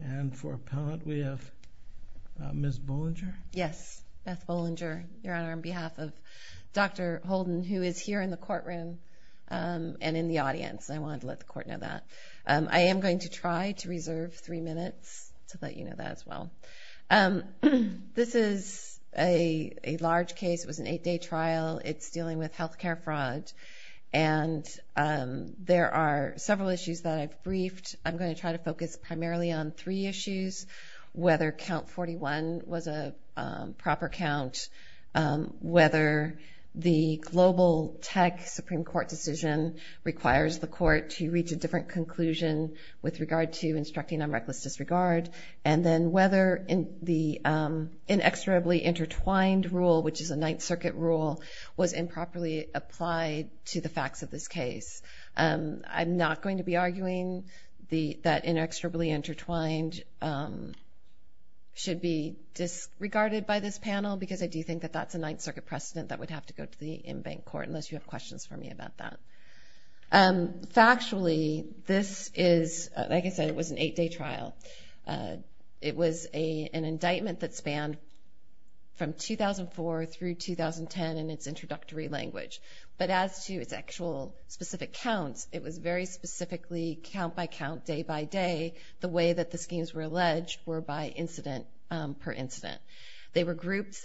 And for appellant, we have Ms. Bollinger. Yes, Beth Bollinger, Your Honor, on behalf of Dr. Holden, who is here in the courtroom and in the audience. I wanted to let the court know that. I am going to try to reserve three minutes to let you know that as well. This is a large case. It was an eight-day trial. It's dealing with healthcare fraud, and there are several issues that I've briefed. I'm going to try to focus primarily on three issues, whether count 41 was a proper count, whether the global tech Supreme Court decision requires the court to reach a different conclusion with regard to instructing on reckless disregard, and then whether the inexorably intertwined rule, which is a Ninth Circuit rule, was improperly applied to the facts of this case. I'm not going to be arguing that inexorably intertwined should be disregarded by this panel, because I do think that that's a Ninth Circuit precedent that would have to go to the in-bank court, unless you have questions for me about that. Factually, this is, like I said, it was an eight-day trial. It was an indictment that spanned from 2004 through 2010 in its introductory language, but as to its actual specific counts, it was very specifically count-by-count, day-by-day, the way that the schemes were alleged were by incident per incident. They were grouped,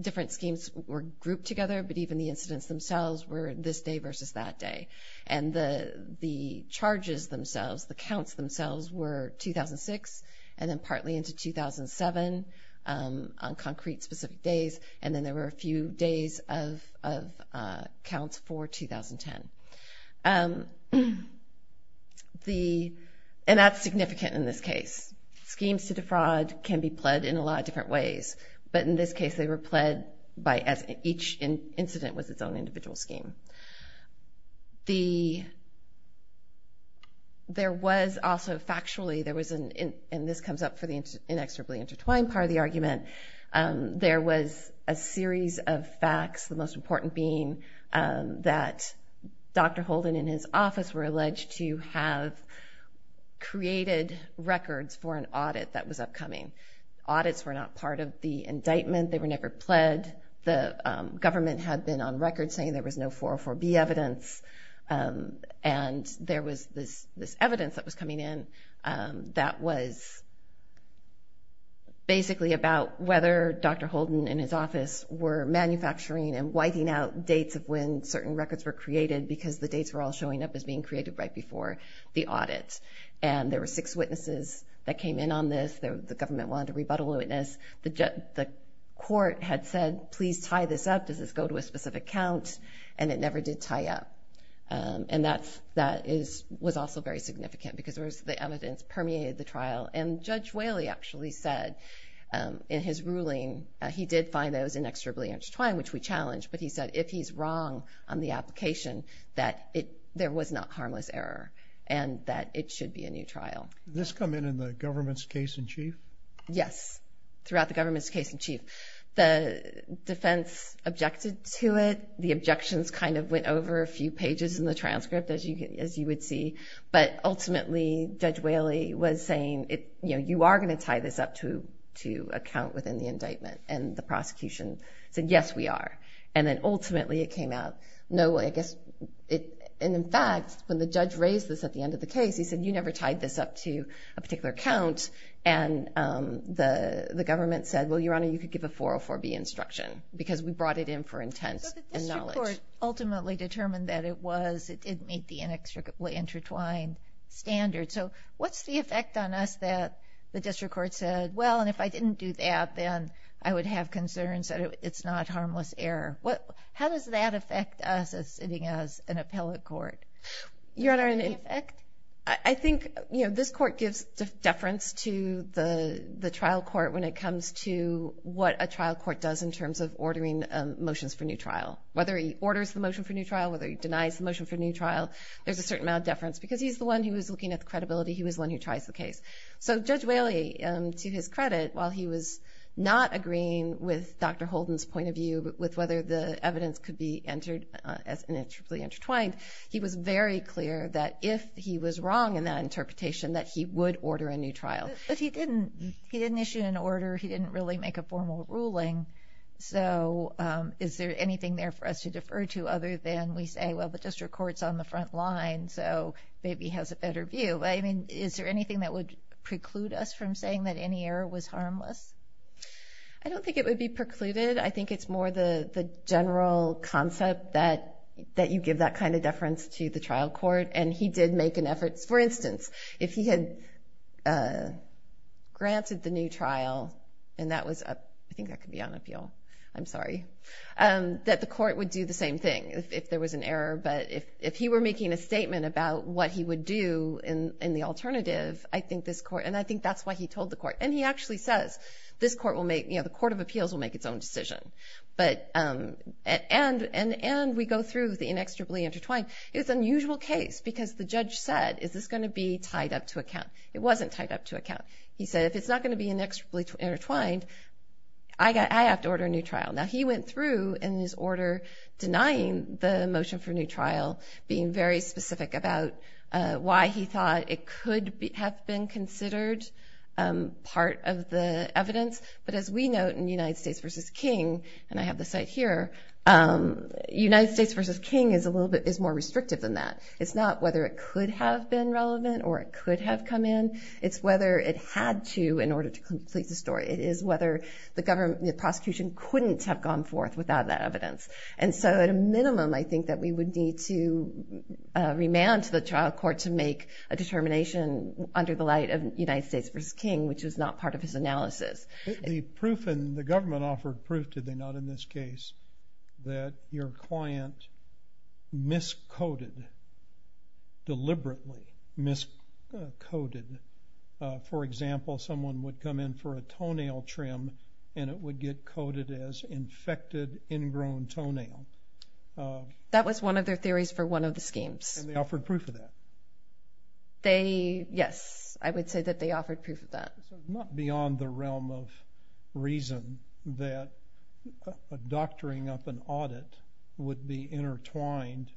different schemes were grouped together, but even the incidents themselves were this day versus that day, and the charges themselves, the counts themselves were 2006 and then partly into 2007 on concrete specific days, and then there were a few days of counts for 2010. And that's significant in this case. Schemes to defraud can be pled in a lot of different ways, but in this case, they were pled by, as each incident was its own individual scheme. There was also, factually, there was an, and this comes up for the inexorably intertwined part of the argument, there was a series of facts, the most important being that Dr. Holden and his office were alleged to have created records for an audit that was upcoming. Audits were not part of the indictment. They were never pled. The government had been on record saying there was no 404B evidence, and there was this evidence that was coming in that was basically about whether Dr. Holden and his office were manufacturing and whiting out dates of when certain records were created because the dates were all showing up as being created right before the audit. And there were six witnesses that came in on this. The government wanted to rebuttal witness. The court had said, please tie this up. Does this go to a specific count? And it never did tie up. And that was also very significant because the evidence permeated the trial. And Judge Whaley actually said in his ruling, he did find that it was inexorably intertwined, which we challenged, but he said, if he's wrong on the application, that there was not harmless error and that it should be a new trial. This come in in the government's case in chief? Yes, throughout the government's case in chief. The defense objected to it. The objections kind of went over a few pages in the transcript, as you would see, but ultimately Judge Whaley was saying, you are going to tie this up to a count within the indictment. And the prosecution said, yes, we are. And then ultimately it came out, no, I guess it, and in fact, when the judge raised this at the end of the case, he said, you never tied this up to a particular count. And the government said, well, Your Honor, you could give a 404B instruction because we brought it in for intent and knowledge. But the district court ultimately determined that it made the inextricably intertwined standard. So what's the effect on us that the district court said, well, and if I didn't do that, then I would have concerns that it's not harmless error. How does that affect us as sitting as an appellate court? Your Honor, I think this court gives deference to the trial court when it comes to what a trial court does in terms of ordering motions for new trial, whether he orders the motion for new trial, whether he denies the motion for new trial, there's a certain amount of deference because he's the one who was looking at the credibility. He was the one who tries the case. So Judge Whaley, to his credit, while he was not agreeing with Dr. Holden's point of view with whether the evidence could be entered as inextricably intertwined, he was very clear that if he was wrong in that interpretation, that he would order a new trial. But he didn't issue an order. He didn't really make a formal ruling. So is there anything there for us to defer to other than we say, well, the district court's on the front line, so maybe he has a better view. I mean, is there anything that would preclude us from saying that any error was harmless? I don't think it would be precluded. I think it's more the general concept that you give that kind of deference to the trial court. And he did make an effort. For instance, if he had granted the new trial, and that was, I think that could be on appeal, I'm sorry, that the court would do the same thing if there was an error but if he were making a statement about what he would do in the alternative, I think this court, and I think that's why he told the court. And he actually says, this court will make, the Court of Appeals will make its own decision. But, and we go through the inextricably intertwined. It was an unusual case because the judge said, is this gonna be tied up to a count? It wasn't tied up to a count. He said, if it's not gonna be inextricably intertwined, I have to order a new trial. Now he went through in his order, denying the motion for a new trial, being very specific about why he thought it could have been considered part of the evidence. But as we note in United States versus King, and I have the site here, United States versus King is a little bit, is more restrictive than that. It's not whether it could have been relevant or it could have come in. It's whether it had to in order to complete the story. It is whether the government, the prosecution couldn't have gone forth without that evidence. And so at a minimum, I think that we would need to remand to the trial court to make a determination under the light of United States versus King, which was not part of his analysis. The proof, and the government offered proof, did they not, in this case, that your client miscoded, deliberately miscoded. For example, someone would come in for a toenail trim and it would get coded as infected ingrown toenail. That was one of their theories for one of the schemes. And they offered proof of that. They, yes, I would say that they offered proof of that. So it's not beyond the realm of reason that a doctoring up an audit would be intertwined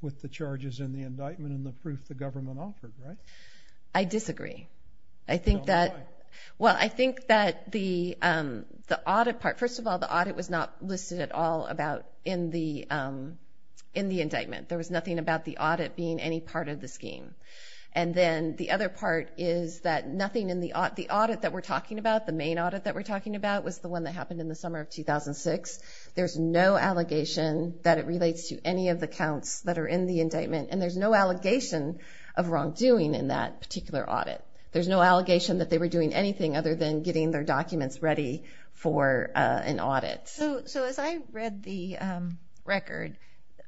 with the charges and the indictment and the proof the government offered, right? I disagree. I think that, well, I think that the audit part, first of all, the audit was not listed at all about in the indictment. There was nothing about the audit being any part of the scheme. And then the other part is that nothing in the audit, the audit that we're talking about, the main audit that we're talking about was the one that happened in the summer of 2006. There's no allegation that it relates to any of the counts that are in the indictment. And there's no allegation of wrongdoing in that particular audit. There's no allegation that they were doing anything other than getting their documents ready for an audit. So as I read the record,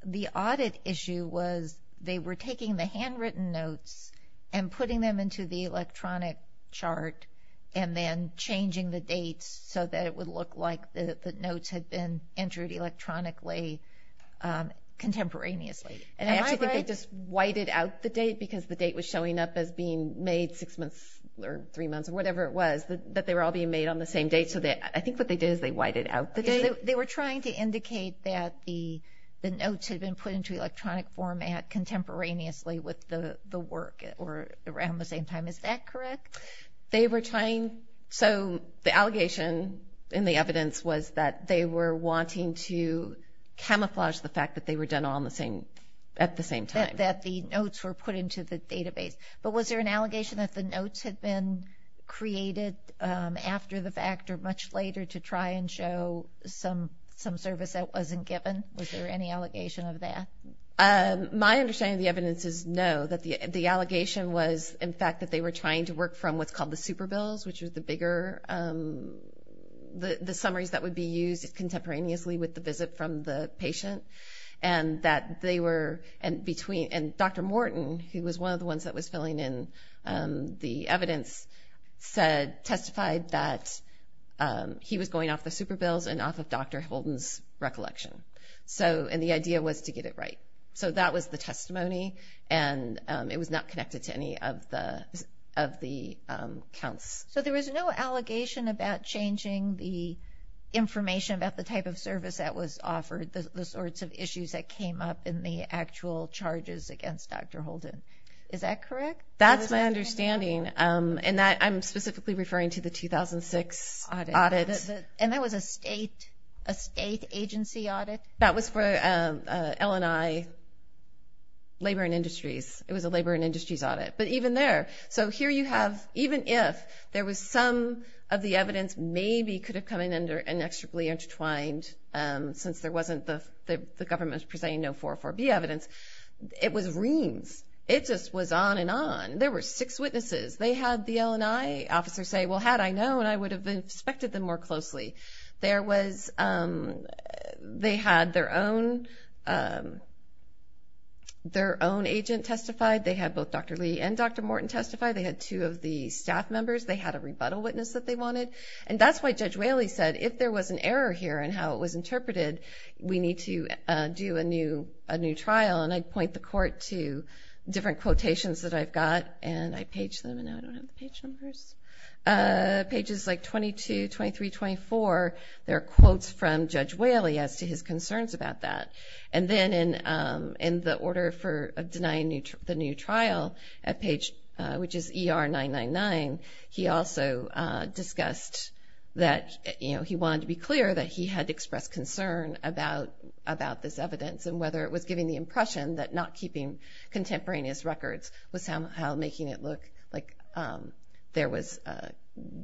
the audit issue was they were taking the handwritten notes and putting them into the electronic chart and then changing the dates so that it would look like the notes had been entered electronically contemporaneously. And I actually think they just whited out the date because the date was showing up as being made six months or three months or whatever it was, that they were all being made on the same date. So I think what they did is they whited out the date. They were trying to indicate that the notes had been put into electronic format contemporaneously with the work or around the same time. Is that correct? They were trying, so the allegation in the evidence was that they were wanting to camouflage the fact that they were done all at the same time. That the notes were put into the database. But was there an allegation that the notes had been created after the fact or much later to try and show some service that wasn't given? Was there any allegation of that? My understanding of the evidence is no, that the allegation was in fact that they were trying to work from what's called the super bills, which was the bigger, the summaries that would be used contemporaneously with the visit from the patient. And that they were, and between, and Dr. Morton, who was one of the ones that was filling in the evidence, said, testified that he was going off the super bills and off of Dr. Holden's recollection. So, and the idea was to get it right. So that was the testimony, and it was not connected to any of the counts. So there was no allegation about changing the information about the type of service that was offered, the sorts of issues that came up in the actual charges against Dr. Holden. Is that correct? That's my understanding. And I'm specifically referring to the 2006 audit. And that was a state agency audit? That was for L&I Labor and Industries. It was a Labor and Industries audit, but even there. So here you have, even if there was some of the evidence maybe could have come in and extrably intertwined since there wasn't the, the government was presenting no 404B evidence. It was reams. It just was on and on. There were six witnesses. They had the L&I officer say, well, had I known, I would have inspected them more closely. There was, they had their own, their own agent testified. They had both Dr. Lee and Dr. Morton testify. They had two of the staff members. They had a rebuttal witness that they wanted. And that's why Judge Whaley said, if there was an error here in how it was interpreted, we need to do a new, a new trial. And I'd point the court to different quotations that I've got and I page them. And now I don't have the page numbers. Pages like 22, 23, 24, there are quotes from Judge Whaley as to his concerns about that. And then in, in the order for denying the new trial at page, which is ER 999, he also discussed that, you know, he wanted to be clear that he had expressed concern about, about this evidence and whether it was giving the impression that not keeping contemporaneous records was somehow making it look like there was,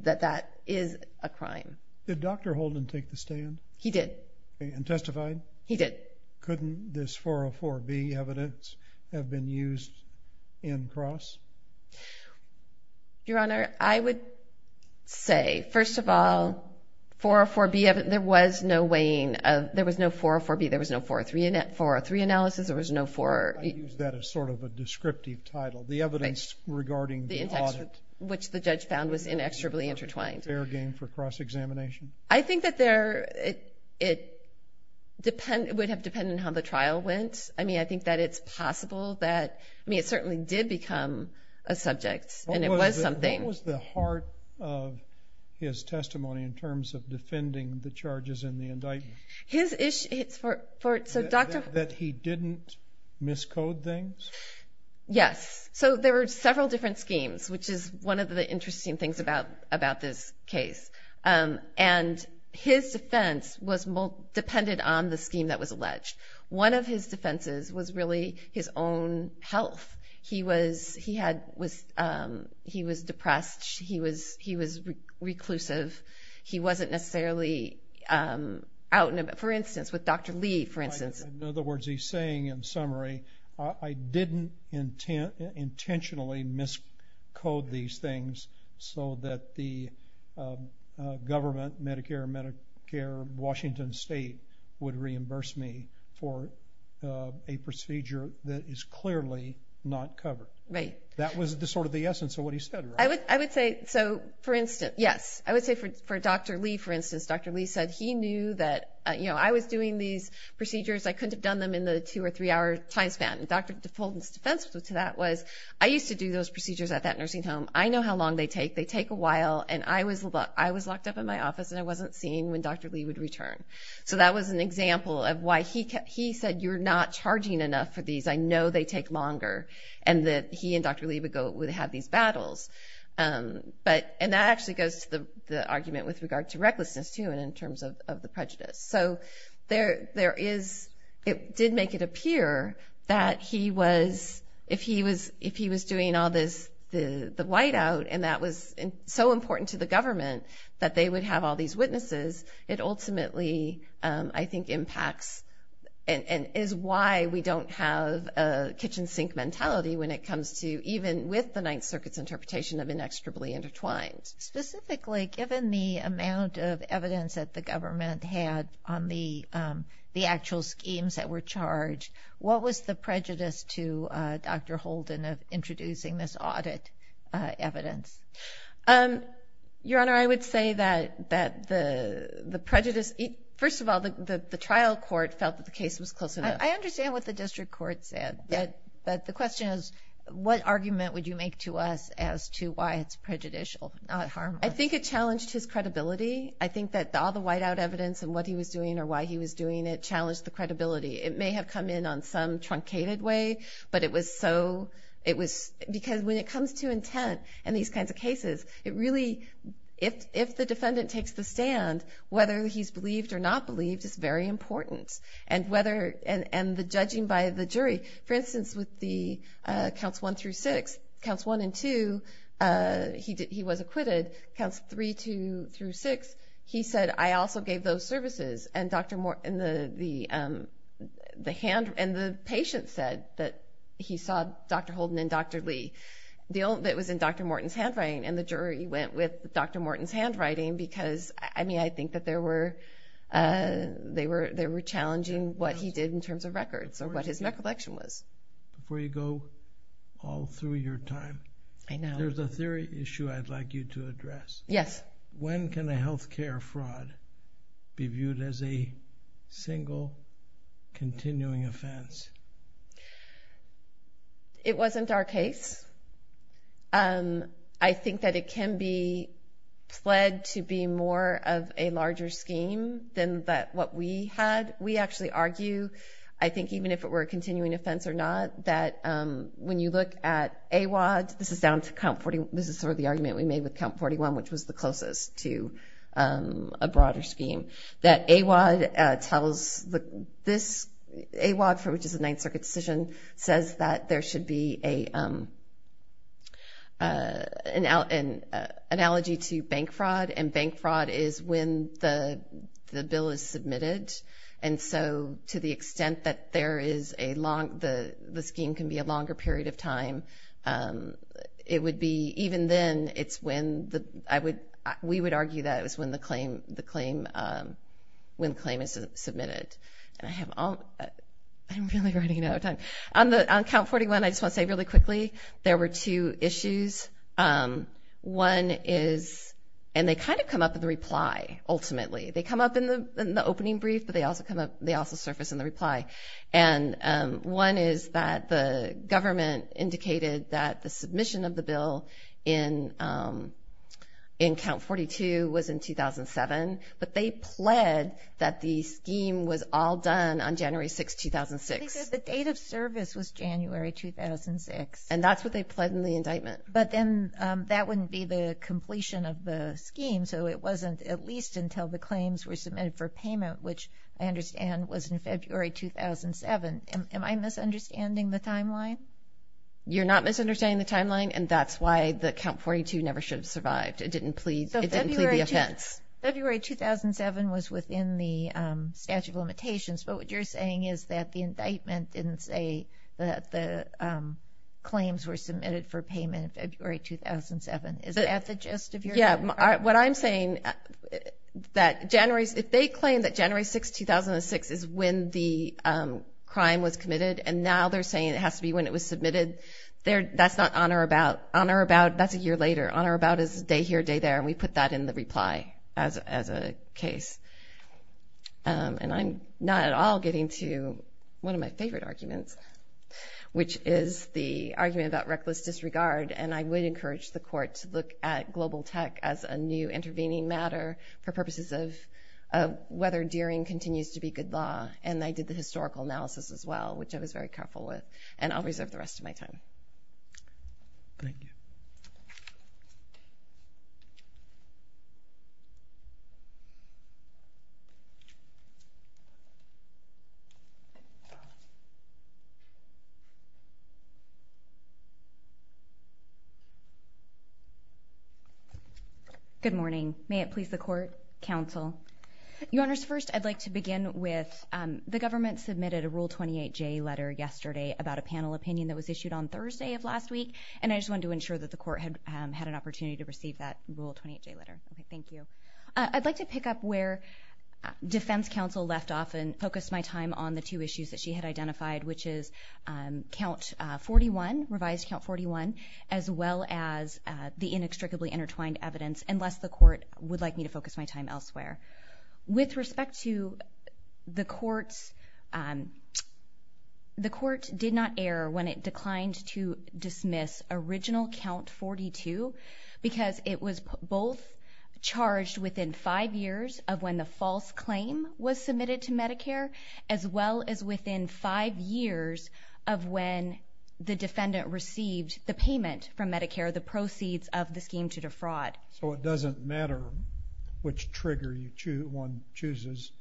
that that is a crime. Did Dr. Holden take the stand? He did. And testified? He did. Couldn't this 404B evidence have been used in cross? Your Honor, I would say, first of all, 404B, there was no weighing of, there was no 404B, there was no 403, 403 analysis, there was no four. I use that as sort of a descriptive title. The evidence regarding the audit. Which the judge found was inexorably intertwined. Fair game for cross-examination. I think that there, it depend, it would have depended on how the trial went. I mean, I think that it's possible that, I mean, it certainly did become a subject and it was something. What was the heart of his testimony in terms of defending the charges in the indictment? His, it's for, so Dr. That he didn't miscode things? Yes. So there were several different schemes, which is one of the interesting things about this case. And his defense was, depended on the scheme that was alleged. One of his defenses was really his own health. He was, he had, was, he was depressed. He was, he was reclusive. He wasn't necessarily out and about. For instance, with Dr. Lee, for instance. In other words, he's saying in summary, I didn't intentionally miscode these things so that the government, Medicare, Medicare, Washington State would reimburse me for a procedure that is clearly not covered. Right. That was the sort of the essence of what he said, right? I would say, so for instance, yes. I would say for Dr. Lee, for instance, Dr. Lee said he knew that, you know, I was doing these procedures. I couldn't have done them in the two or three hour time span. And Dr. DeFolden's defense to that was, I used to do those procedures at that nursing home. I know how long they take. They take a while. And I was locked up in my office and I wasn't seeing when Dr. Lee would return. So that was an example of why he kept, he said, you're not charging enough for these. I know they take longer. And that he and Dr. Lee would go, would have these battles. But, and that actually goes to the argument with regard to recklessness too, and in terms of the prejudice. So there, there is, it did make it appear that he was, if he was, if he was doing all this, the whiteout, and that was so important to the government that they would have all these witnesses. It ultimately, I think impacts, and is why we don't have a kitchen sink mentality when it comes to, even with the Ninth Circuit's interpretation of inextricably intertwined. Specifically, given the amount of evidence that the government had on the actual schemes that were charged, what was the prejudice to Dr. Holden of introducing this audit evidence? Your Honor, I would say that the prejudice, first of all, the trial court felt that the case was close enough. I understand what the district court said, but the question is, what argument would you make to us as to why it's prejudicial, not harmful? I think it challenged his credibility. I think that all the whiteout evidence and what he was doing or why he was doing it challenged the credibility. It may have come in on some truncated way, but it was so, it was, because when it comes to intent in these kinds of cases, it really, if the defendant takes the stand, whether he's believed or not believed is very important. And whether, and the judging by the jury. For instance, with the counts one through six, counts one and two, he was acquitted. Counts three through six, he said, I also gave those services. And Dr. Moore, and the hand, and the patient said that he saw Dr. Holden and Dr. Lee. The only, it was in Dr. Morton's handwriting, and the jury went with Dr. Morton's handwriting because, I mean, I think that there were, they were challenging what he did in terms of records or what his recollection was. Before you go all through your time. I know. There's a theory issue I'd like you to address. Yes. When can a healthcare fraud be viewed as a single continuing offense? It wasn't our case. I think that it can be pled to be more of a larger scheme than what we had. We actually argue, I think, even if it were a continuing offense or not, that when you look at AWAD, this is down to count 41, this is sort of the argument we made with count 41, which was the closest to a broader scheme, that AWAD tells, AWAD, which is a Ninth Circuit decision, says that there should be an analogy to bank fraud, and bank fraud is when the bill is submitted. And so, to the extent that there is a long, the scheme can be a longer period of time, it would be, even then, it's when the, we would argue that it was when the claim is submitted. And I have, I'm really running out of time. On count 41, I just want to say really quickly, there were two issues. One is, and they kind of come up in the reply, ultimately. They come up in the opening brief, but they also surface in the reply. And one is that the government indicated that the submission of the bill in count 42 was in 2007, but they pled that the scheme was all done on January 6th, 2006. They said the date of service was January 2006. And that's what they pled in the indictment. But then, that wouldn't be the completion of the scheme, so it wasn't at least until the claims were submitted for payment, which I understand was in February 2007. Am I misunderstanding the timeline? You're not misunderstanding the timeline, and that's why the count 42 never should have survived. It didn't plead the offense. February 2007 was within the statute of limitations, but what you're saying is that the indictment didn't say that the claims were submitted for payment in February 2007. Is that the gist of your argument? What I'm saying, that January, if they claim that January 6th, 2006 is when the crime was committed, and now they're saying it has to be when it was submitted, that's not honor about. Honor about, that's a year later. Honor about is day here, day there, and we put that in the reply as a case. And I'm not at all getting to one of my favorite arguments, which is the argument about reckless disregard. And I would encourage the court to look at global tech as a new intervening matter for purposes of whether Deering continues to be good law. And I did the historical analysis as well, which I was very careful with. And I'll reserve the rest of my time. Thank you. Good morning. May it please the court, counsel. Your honors, first I'd like to begin with, the government submitted a Rule 28J letter yesterday about a panel opinion that was issued on Thursday of last week. And I just wanted to ensure that the court had an opportunity to receive that Rule 28J letter. Okay, thank you. I'd like to pick up where defense counsel left off and focus my time on the two issues that she had identified, which is count 41, revised count 41, as well as the inextricably intertwined evidence, unless the court would like me to focus my time elsewhere. With respect to the courts, the court did not err when it declined to dismiss original count 42, because it was both charged within five years of when the false claim was submitted to Medicare, as well as within five years of when the defendant received the payment from Medicare, the proceeds of the scheme to defraud. So it doesn't matter which trigger one chooses,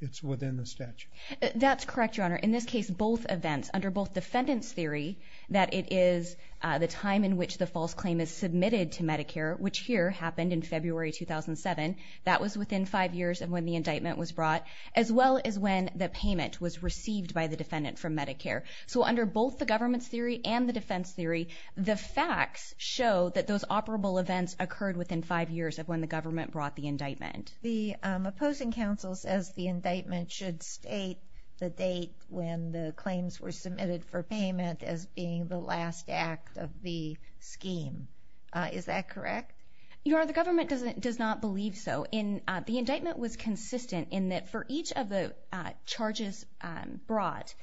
it's within the statute. That's correct, your honor. In this case, both events, under both defendant's theory, that it is the time in which the false claim is submitted to Medicare, which here happened in February 2007, that was within five years of when the indictment was brought as well as when the payment was received by the defendant from Medicare. So under both the government's theory and the defense theory, the facts show that those operable events occurred within five years of when the government brought the indictment. The opposing counsel says the indictment should state the date when the claims were submitted for payment as being the last act of the scheme. Is that correct? Your honor, the government does not believe so. The indictment was consistent in that for each of the charges brought,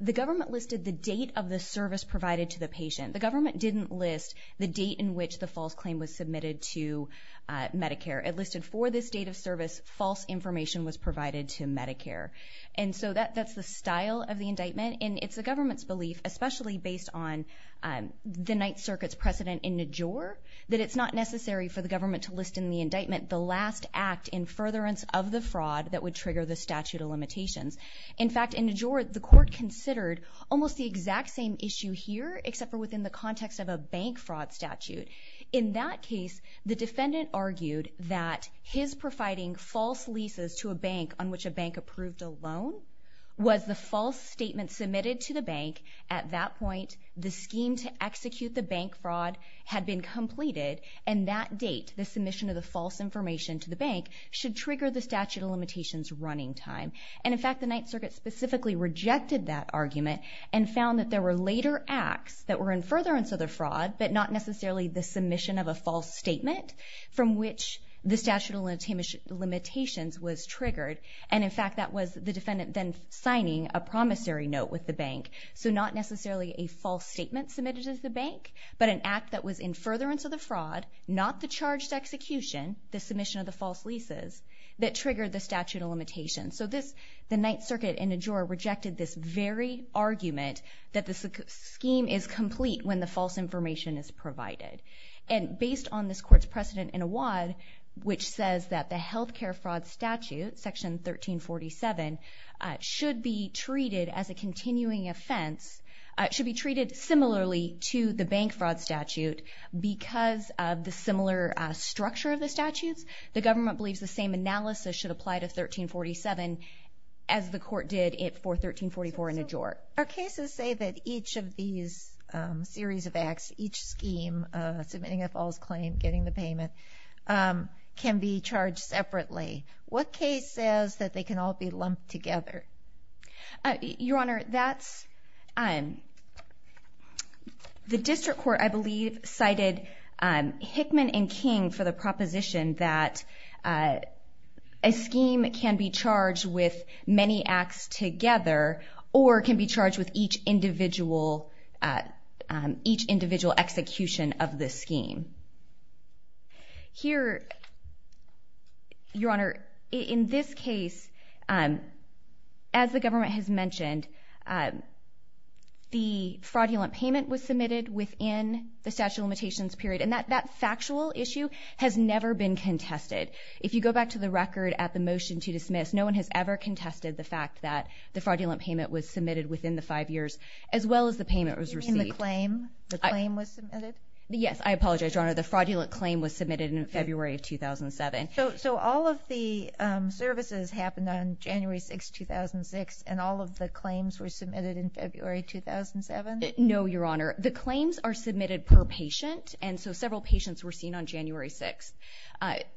the government listed the date of the service provided to the patient. The government didn't list the date in which the false claim was submitted to Medicare. It listed for this date of service, false information was provided to Medicare. And so that's the style of the indictment and it's the government's belief, especially based on the Ninth Circuit's precedent in Najor, that it's not necessary for the government to list in the indictment the last act in furtherance of the fraud that would trigger the statute of limitations. In fact, in Najor, the court considered almost the exact same issue here, except for within the context of a bank fraud statute. In that case, the defendant argued that his providing false leases to a bank on which a bank approved a loan was the false statement submitted to the bank. At that point, the scheme to execute the bank fraud had been completed and that date, the submission of the false information to the bank, should trigger the statute of limitations running time. And in fact, the Ninth Circuit specifically rejected that argument and found that there were later acts that were in furtherance of the fraud, but not necessarily the submission of a false statement from which the statute of limitations was triggered. And in fact, that was the defendant then signing a promissory note with the bank. So not necessarily a false statement submitted to the bank, but an act that was in furtherance of the fraud, not the charged execution, the submission of the false leases, that triggered the statute of limitations. So the Ninth Circuit in Najor rejected this very argument that the scheme is complete when the false information is provided. And based on this court's precedent in Awad, which says that the healthcare fraud statute, section 1347, should be treated as a continuing offense, should be treated similarly to the bank fraud statute because of the similar structure of the statutes. The government believes the same analysis should apply to 1347 as the court did for 1344 in Najor. Our cases say that each of these series of acts, each scheme, submitting a false claim, getting the payment, can be charged separately. What case says that they can all be lumped together? Your Honor, that's, the district court, I believe, that a scheme can be charged with many acts together or can be charged with each individual, each individual execution of the scheme. Here, Your Honor, in this case, as the government has mentioned, the fraudulent payment was submitted within the statute of limitations period. And that factual issue has never been contested. If you go back to the record at the motion to dismiss, no one has ever contested the fact that the fraudulent payment was submitted within the five years as well as the payment was received. You mean the claim, the claim was submitted? Yes, I apologize, Your Honor. The fraudulent claim was submitted in February of 2007. So all of the services happened on January 6th, 2006 and all of the claims were submitted in February 2007? No, Your Honor. The claims are submitted per patient. And so several patients were seen on January 6th.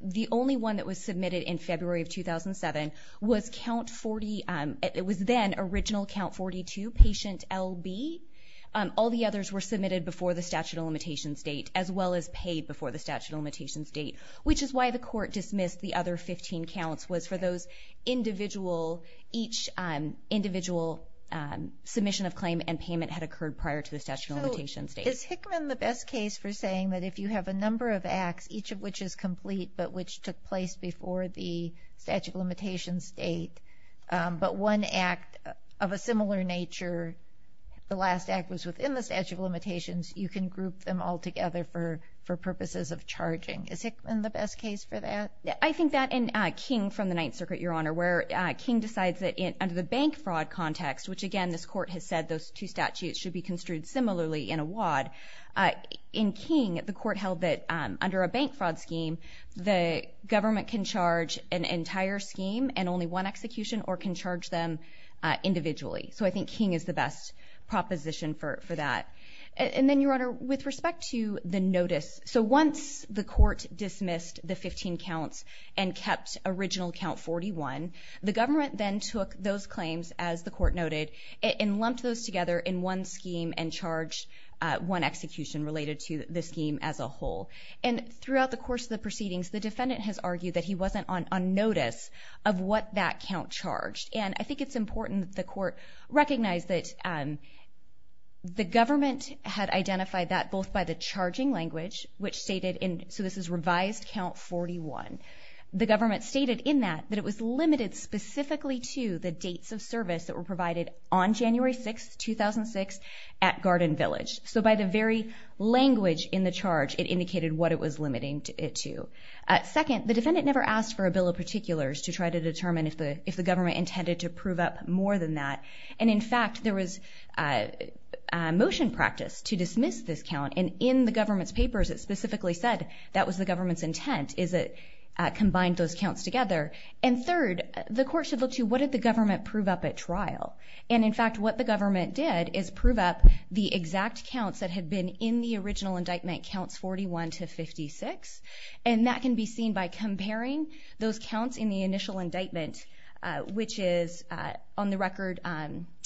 The only one that was submitted in February of 2007 was count 40, it was then original count 42, patient LB. All the others were submitted before the statute of limitations date as well as paid before the statute of limitations date, which is why the court dismissed the other 15 counts was for those individual, each individual submission of claim and payment had occurred prior to the statute of limitations date. Is Hickman the best case for saying that if you have a number of acts, each of which is complete, but which took place before the statute of limitations date, but one act of a similar nature, the last act was within the statute of limitations, you can group them all together for purposes of charging. Is Hickman the best case for that? Yeah, I think that in King from the Ninth Circuit, Your Honor, where King decides that under the bank fraud context, should be construed similarly in a WAD. In King, the court held that under a bank fraud scheme, the government can charge an entire scheme and only one execution or can charge them individually. So I think King is the best proposition for that. And then Your Honor, with respect to the notice, so once the court dismissed the 15 counts and kept original count 41, the government then took those claims as the court noted and lumped those together in one scheme and charged one execution related to the scheme as a whole. And throughout the course of the proceedings, the defendant has argued that he wasn't on notice of what that count charged. And I think it's important that the court recognize that the government had identified that both by the charging language, which stated in, so this is revised count 41. The government stated in that, that it was limited specifically to the dates of service that were provided on January 6th, 2006, at Garden Village. So by the very language in the charge, it indicated what it was limiting it to. Second, the defendant never asked for a bill of particulars to try to determine if the government intended to prove up more than that. And in fact, there was motion practice to dismiss this count. And in the government's papers, it specifically said that was the government's intent, is it combined those counts together. And third, the court should look to what did the government prove up at trial? And in fact, what the government did is prove up the exact counts that had been in the original indictment, counts 41 to 56. And that can be seen by comparing those counts in the initial indictment, which is on the record,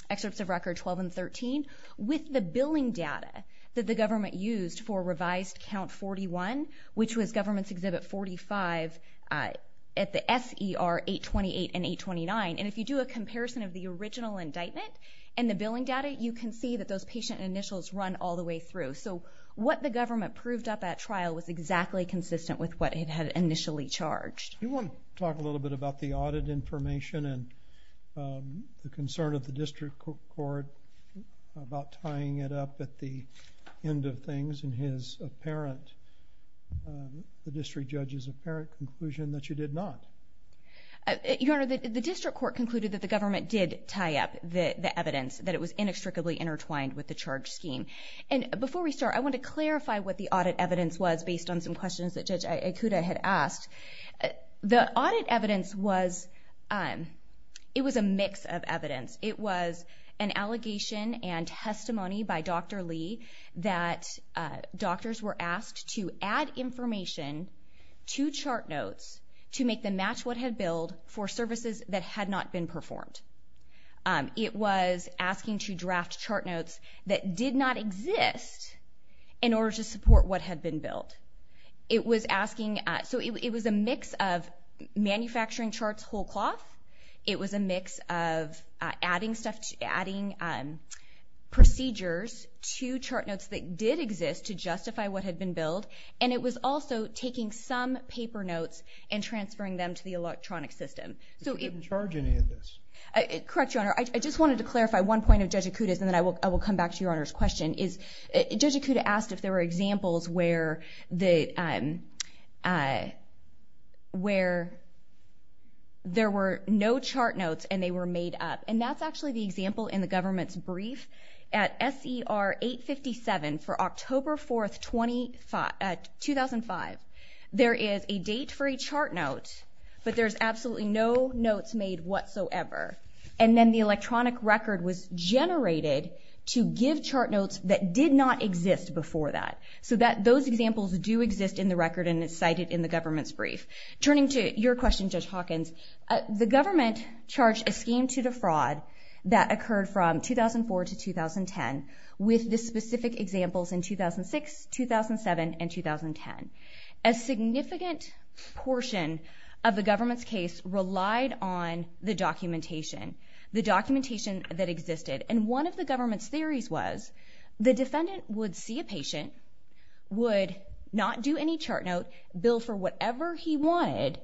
excerpts of record 12 and 13, with the billing data that the government used for revised count 41, which was government's exhibit 45 at the SER 828 and 829. And if you do a comparison of the original indictment and the billing data, you can see that those patient initials run all the way through. So what the government proved up at trial was exactly consistent with what it had initially charged. You wanna talk a little bit about the audit information and the concern of the district court about tying it up at the end of things in his apparent, the district judge's apparent conclusion that you did not. Your Honor, the district court concluded that the government did tie up the evidence, that it was inextricably intertwined with the charge scheme. And before we start, I want to clarify what the audit evidence was based on some questions that Judge Ikuda had asked. The audit evidence was, it was a mix of evidence. It was an allegation and testimony by Dr. Lee that doctors were asked to add information to chart notes to make them match what had billed for services that had not been performed. It was asking to draft chart notes that did not exist in order to support what had been billed. It was asking, so it was a mix of manufacturing charts whole cloth. It was a mix of adding stuff, adding procedures to chart notes that did exist to justify what had been billed. And it was also taking some paper notes and transferring them to the electronic system. So it- It didn't charge any of this. Correct, Your Honor. I just wanted to clarify one point of Judge Ikuda's and then I will come back to Your Honor's question is, Judge Ikuda asked if there were examples where the, where there were no chart notes and they were made up. And that's actually the example in the government's brief at SER 857 for October 4th, 2005. There is a date for a chart note, but there's absolutely no notes made whatsoever. And then the electronic record was generated to give chart notes that did not exist before that. So that those examples do exist in the record and it's cited in the government's brief. Turning to your question, Judge Hawkins, the government charged a scheme to defraud that occurred from 2004 to 2010 with the specific examples in 2006, 2007, and 2010. A significant portion of the government's case relied on the documentation, the documentation that existed. And one of the government's theories was the defendant would see a patient, would not do any chart note, bill for whatever he wanted,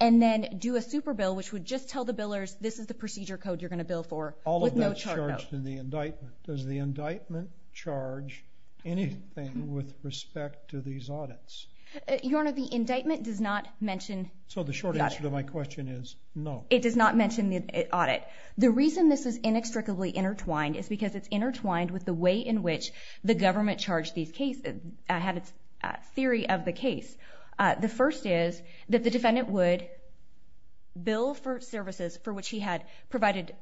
and then do a super bill, which would just tell the billers, this is the procedure code you're gonna bill for with no chart note. All of that's charged in the indictment. Does the indictment charge anything with respect to these audits? Your Honor, the indictment does not mention the audit. So the short answer to my question is no. It does not mention the audit. The reason this is inextricably intertwined is because it's intertwined with the way in which the government charged these cases, had its theory of the case. The first is that the defendant would bill for services for which he had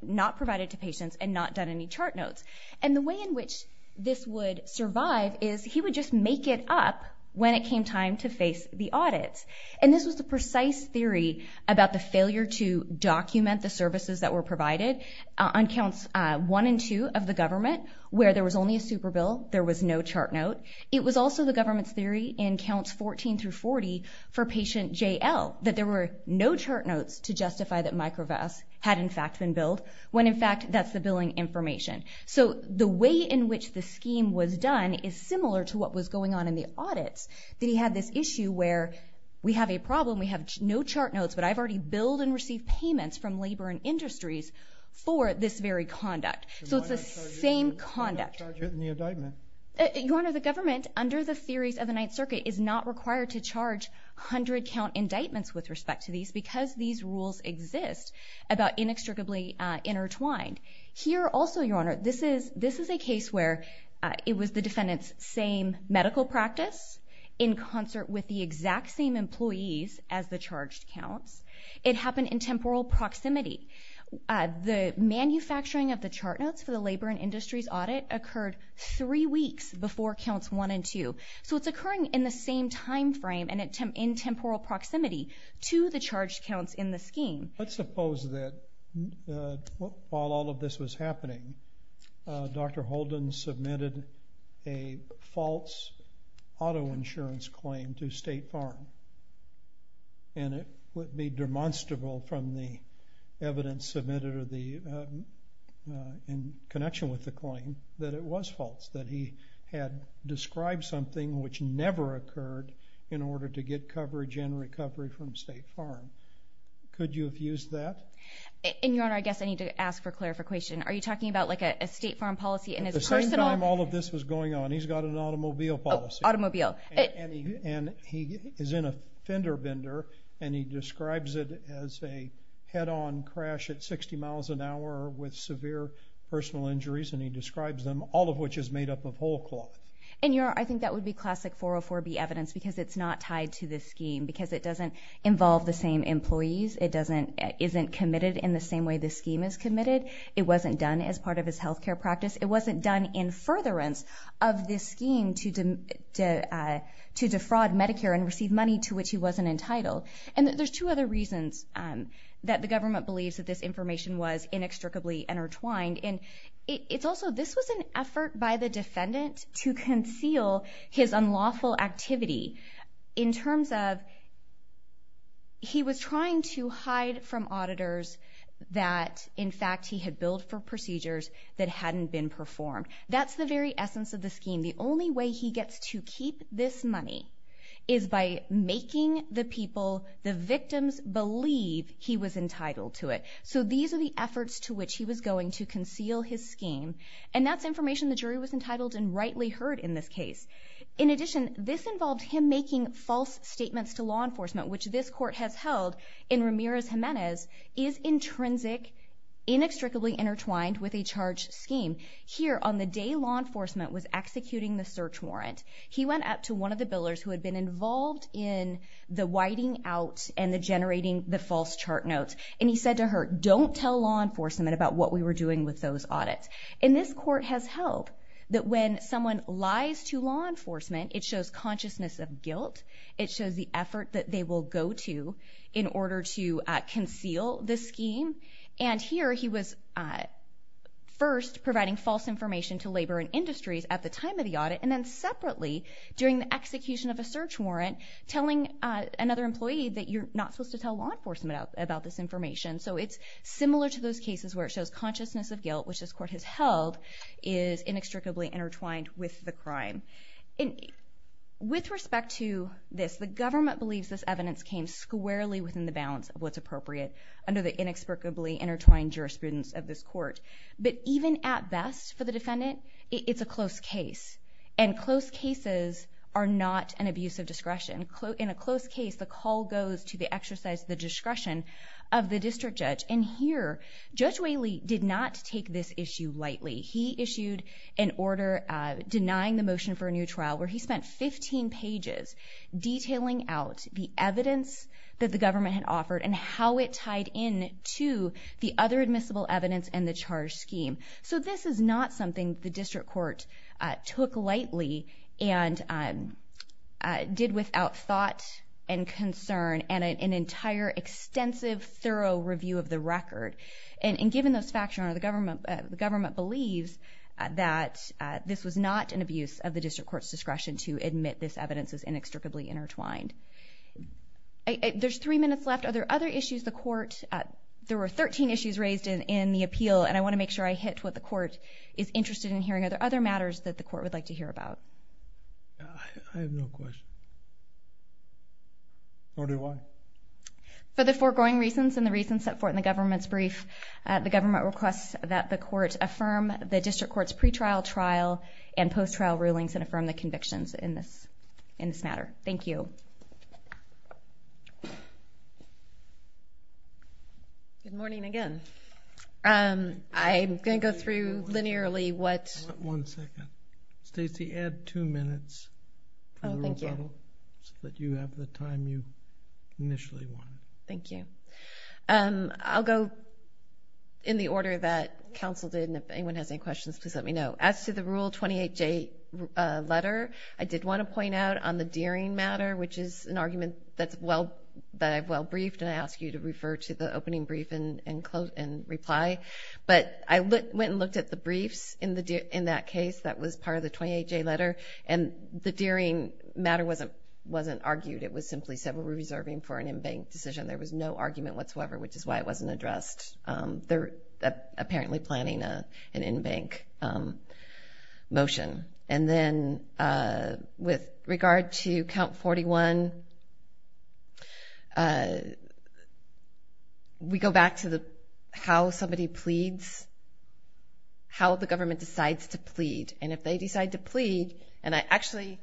not provided to patients and not done any chart notes. And the way in which this would survive is he would just make it up when it came time to face the audits. And this was the precise theory about the failure to document the services that were provided on counts one and two of the government where there was only a super bill, there was no chart note. It was also the government's theory in counts 14 through 40 for patient JL that there were no chart notes to justify that microvests had in fact been billed when in fact that's the billing information. So the way in which the scheme was done is similar to what was going on in the audits that he had this issue where we have a problem, we have no chart notes, but I've already billed and received payments from labor and industries for this very conduct. So it's the same conduct. Why not charge it in the indictment? Your Honor, the government under the theories of the Ninth Circuit is not required to charge 100 count indictments with respect to these because these rules exist about inextricably intertwined. Here also, Your Honor, this is a case where it was the defendant's same medical practice in concert with the exact same employees as the charged counts. It happened in temporal proximity. The manufacturing of the chart notes for the labor and industries audit occurred three weeks before counts one and two. So it's occurring in the same timeframe and in temporal proximity to the charged counts in the scheme. Let's suppose that while all of this was happening, Dr. Holden submitted a false auto insurance claim to State Farm and it would be demonstrable from the evidence submitted in connection with the claim that it was false, that he had described something which never occurred in order to get coverage and recovery from State Farm. Could you have used that? And Your Honor, I guess I need to ask for clarification. Are you talking about like a State Farm policy and his personal? At the same time all of this was going on, he's got an automobile policy. Automobile. And he is in a fender bender and he describes it as a head-on crash at 60 miles an hour with severe personal injuries and he describes them, all of which is made up of whole cloth. And Your Honor, I think that would be classic 404B evidence because it's not tied to the scheme because it doesn't involve the same employees. It isn't committed in the same way the scheme is committed. It wasn't done as part of his healthcare practice. It wasn't done in furtherance of this scheme to defraud Medicare and receive money to which he wasn't entitled. And there's two other reasons that the government believes that this information was inextricably intertwined. And it's also, this was an effort by the defendant to conceal his unlawful activity in terms of he was trying to hide from auditors that, in fact, he had billed for procedures that hadn't been performed. That's the very essence of the scheme. The only way he gets to keep this money is by making the people, the victims, believe he was entitled to it. So these are the efforts to which he was going to conceal his scheme and that's information the jury was entitled and rightly heard in this case. In addition, this involved him making false statements to law enforcement, which this court has held in Ramirez-Gimenez is intrinsic, inextricably intertwined with a charge scheme. Here, on the day law enforcement was executing the search warrant, he went up to one of the billers who had been involved in the whiting out and the generating the false chart notes and he said to her, don't tell law enforcement about what we were doing with those audits. And this court has held that when someone lies to law enforcement, it shows consciousness of guilt, it shows the effort that they will go to in order to conceal the scheme. And here, he was first providing false information to labor and industries at the time of the audit and then separately, during the execution of a search warrant, telling another employee that you're not supposed to tell law enforcement about this information. So it's similar to those cases where it shows consciousness of guilt, which this court has held, is inextricably intertwined with the crime. And with respect to this, the government believes this evidence came squarely within the balance of what's appropriate under the inexplicably intertwined jurisprudence of this court. But even at best, for the defendant, it's a close case. And close cases are not an abuse of discretion. In a close case, the call goes to the exercise of the discretion of the district judge. And here, Judge Whaley did not take this issue lightly. He issued an order denying the motion for a new trial where he spent 15 pages detailing out the evidence that the government had offered and how it tied in to the other admissible evidence and the charge scheme. So this is not something the district court took lightly and did without thought and concern and an entire extensive, thorough review of the record. And given those facts, Your Honor, the government believes that this was not an abuse of the district court's discretion to admit this evidence is inextricably intertwined. There's three minutes left. Are there other issues the court, there were 13 issues raised in the appeal, and I wanna make sure I hit what the court is interested in hearing. Are there other matters that the court would like to hear about? Yeah, I have no question. Order one. For the foregoing reasons and the reasons set forth in the government's brief, the government requests that the court affirm the district court's pretrial trial and post-trial rulings and affirm the convictions in this matter. Thank you. Good morning again. I'm gonna go through linearly what. One second. Stacy, add two minutes. Oh, thank you. So that you have the time you initially wanted. Thank you. I'll go in the order that counsel did, and if anyone has any questions, please let me know. As to the Rule 28J letter, I did wanna point out on the dearing matter, which is an argument that I've well briefed, and I ask you to refer to the opening brief and reply. But I went and looked at the briefs in that case that was part of the 28J letter, and the dearing matter wasn't argued. It was simply said we were reserving for an in-bank decision. There was no argument whatsoever, which is why it wasn't addressed. They're apparently planning an in-bank motion. And then with regard to Count 41, we go back to how somebody pleads, how the government decides to plead. And if they decide to plead, and I actually,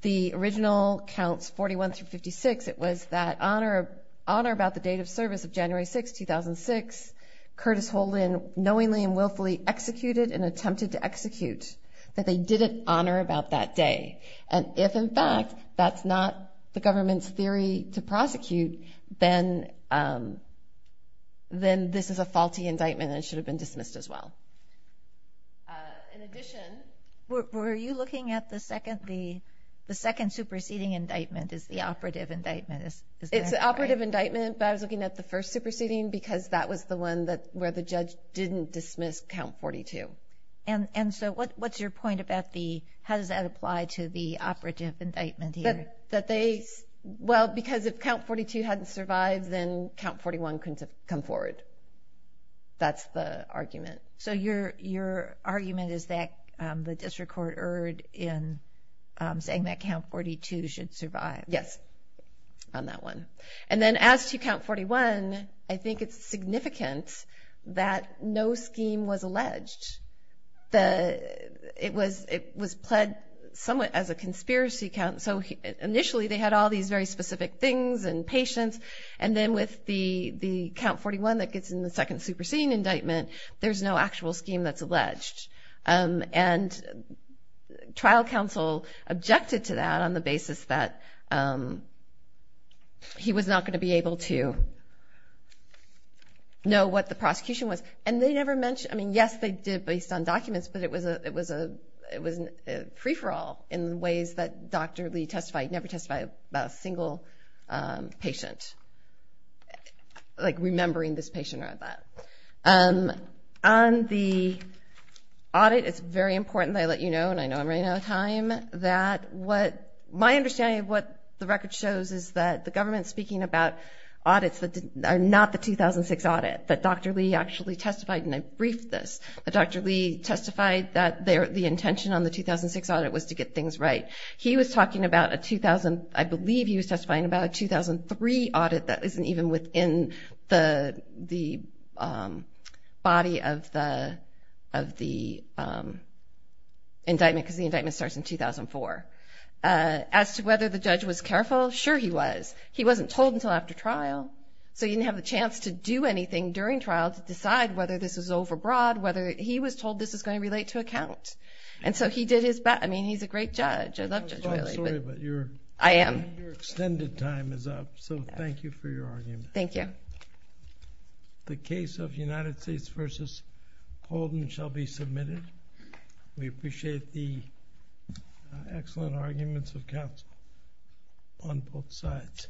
the original Counts 41 through 56, it was that honor about the date of service of January 6, 2006, Curtis Holden knowingly and willfully executed and attempted to execute, that they didn't honor about that day. And if, in fact, that's not the government's theory to prosecute, then this is a faulty indictment and it should have been dismissed as well. In addition, were you looking at the second superseding indictment as the operative indictment? It's the operative indictment, but I was looking at the first superseding because that was the one where the judge didn't dismiss Count 42. And so what's your point about the, how does that apply to the operative indictment here? That they, well, because if Count 42 hadn't survived, then Count 41 couldn't have come forward. That's the argument. So your argument is that the district court erred in saying that Count 42 should survive? Yes, on that one. And then as to Count 41, I think it's significant that no scheme was alleged. It was pled somewhat as a conspiracy count. So initially they had all these very specific things and patience. And then with the Count 41 that gets in the second superseding indictment, there's no actual scheme that's alleged. And trial counsel objected to that on the basis that he was not gonna be able to know what the prosecution was. And they never mentioned, I mean, yes, they did based on documents, but it was a free-for-all in ways that Dr. Lee testified, never testified about a single patient, like remembering this patient or that. On the audit, it's very important that I let you know, and I know I'm running out of time, that my understanding of what the record shows is that the government's speaking about audits that are not the 2006 audit, that Dr. Lee actually testified, and I briefed this, that Dr. Lee testified that the intention on the 2006 audit was to get things right. He was talking about a 2000, I believe he was testifying about a 2003 audit that isn't even within the body of the indictment, because the indictment starts in 2004. As to whether the judge was careful, sure he was. He wasn't told until after trial, so he didn't have the chance to do anything during trial to decide whether this was overbroad, whether he was told this was gonna relate to a count. And so he did his best. I mean, he's a great judge. I love Judge O'Reilly. I'm sorry, but your extended time is up, so thank you for your argument. Thank you. The case of United States v. Holden shall be submitted. We appreciate the excellent arguments of counsel on both sides.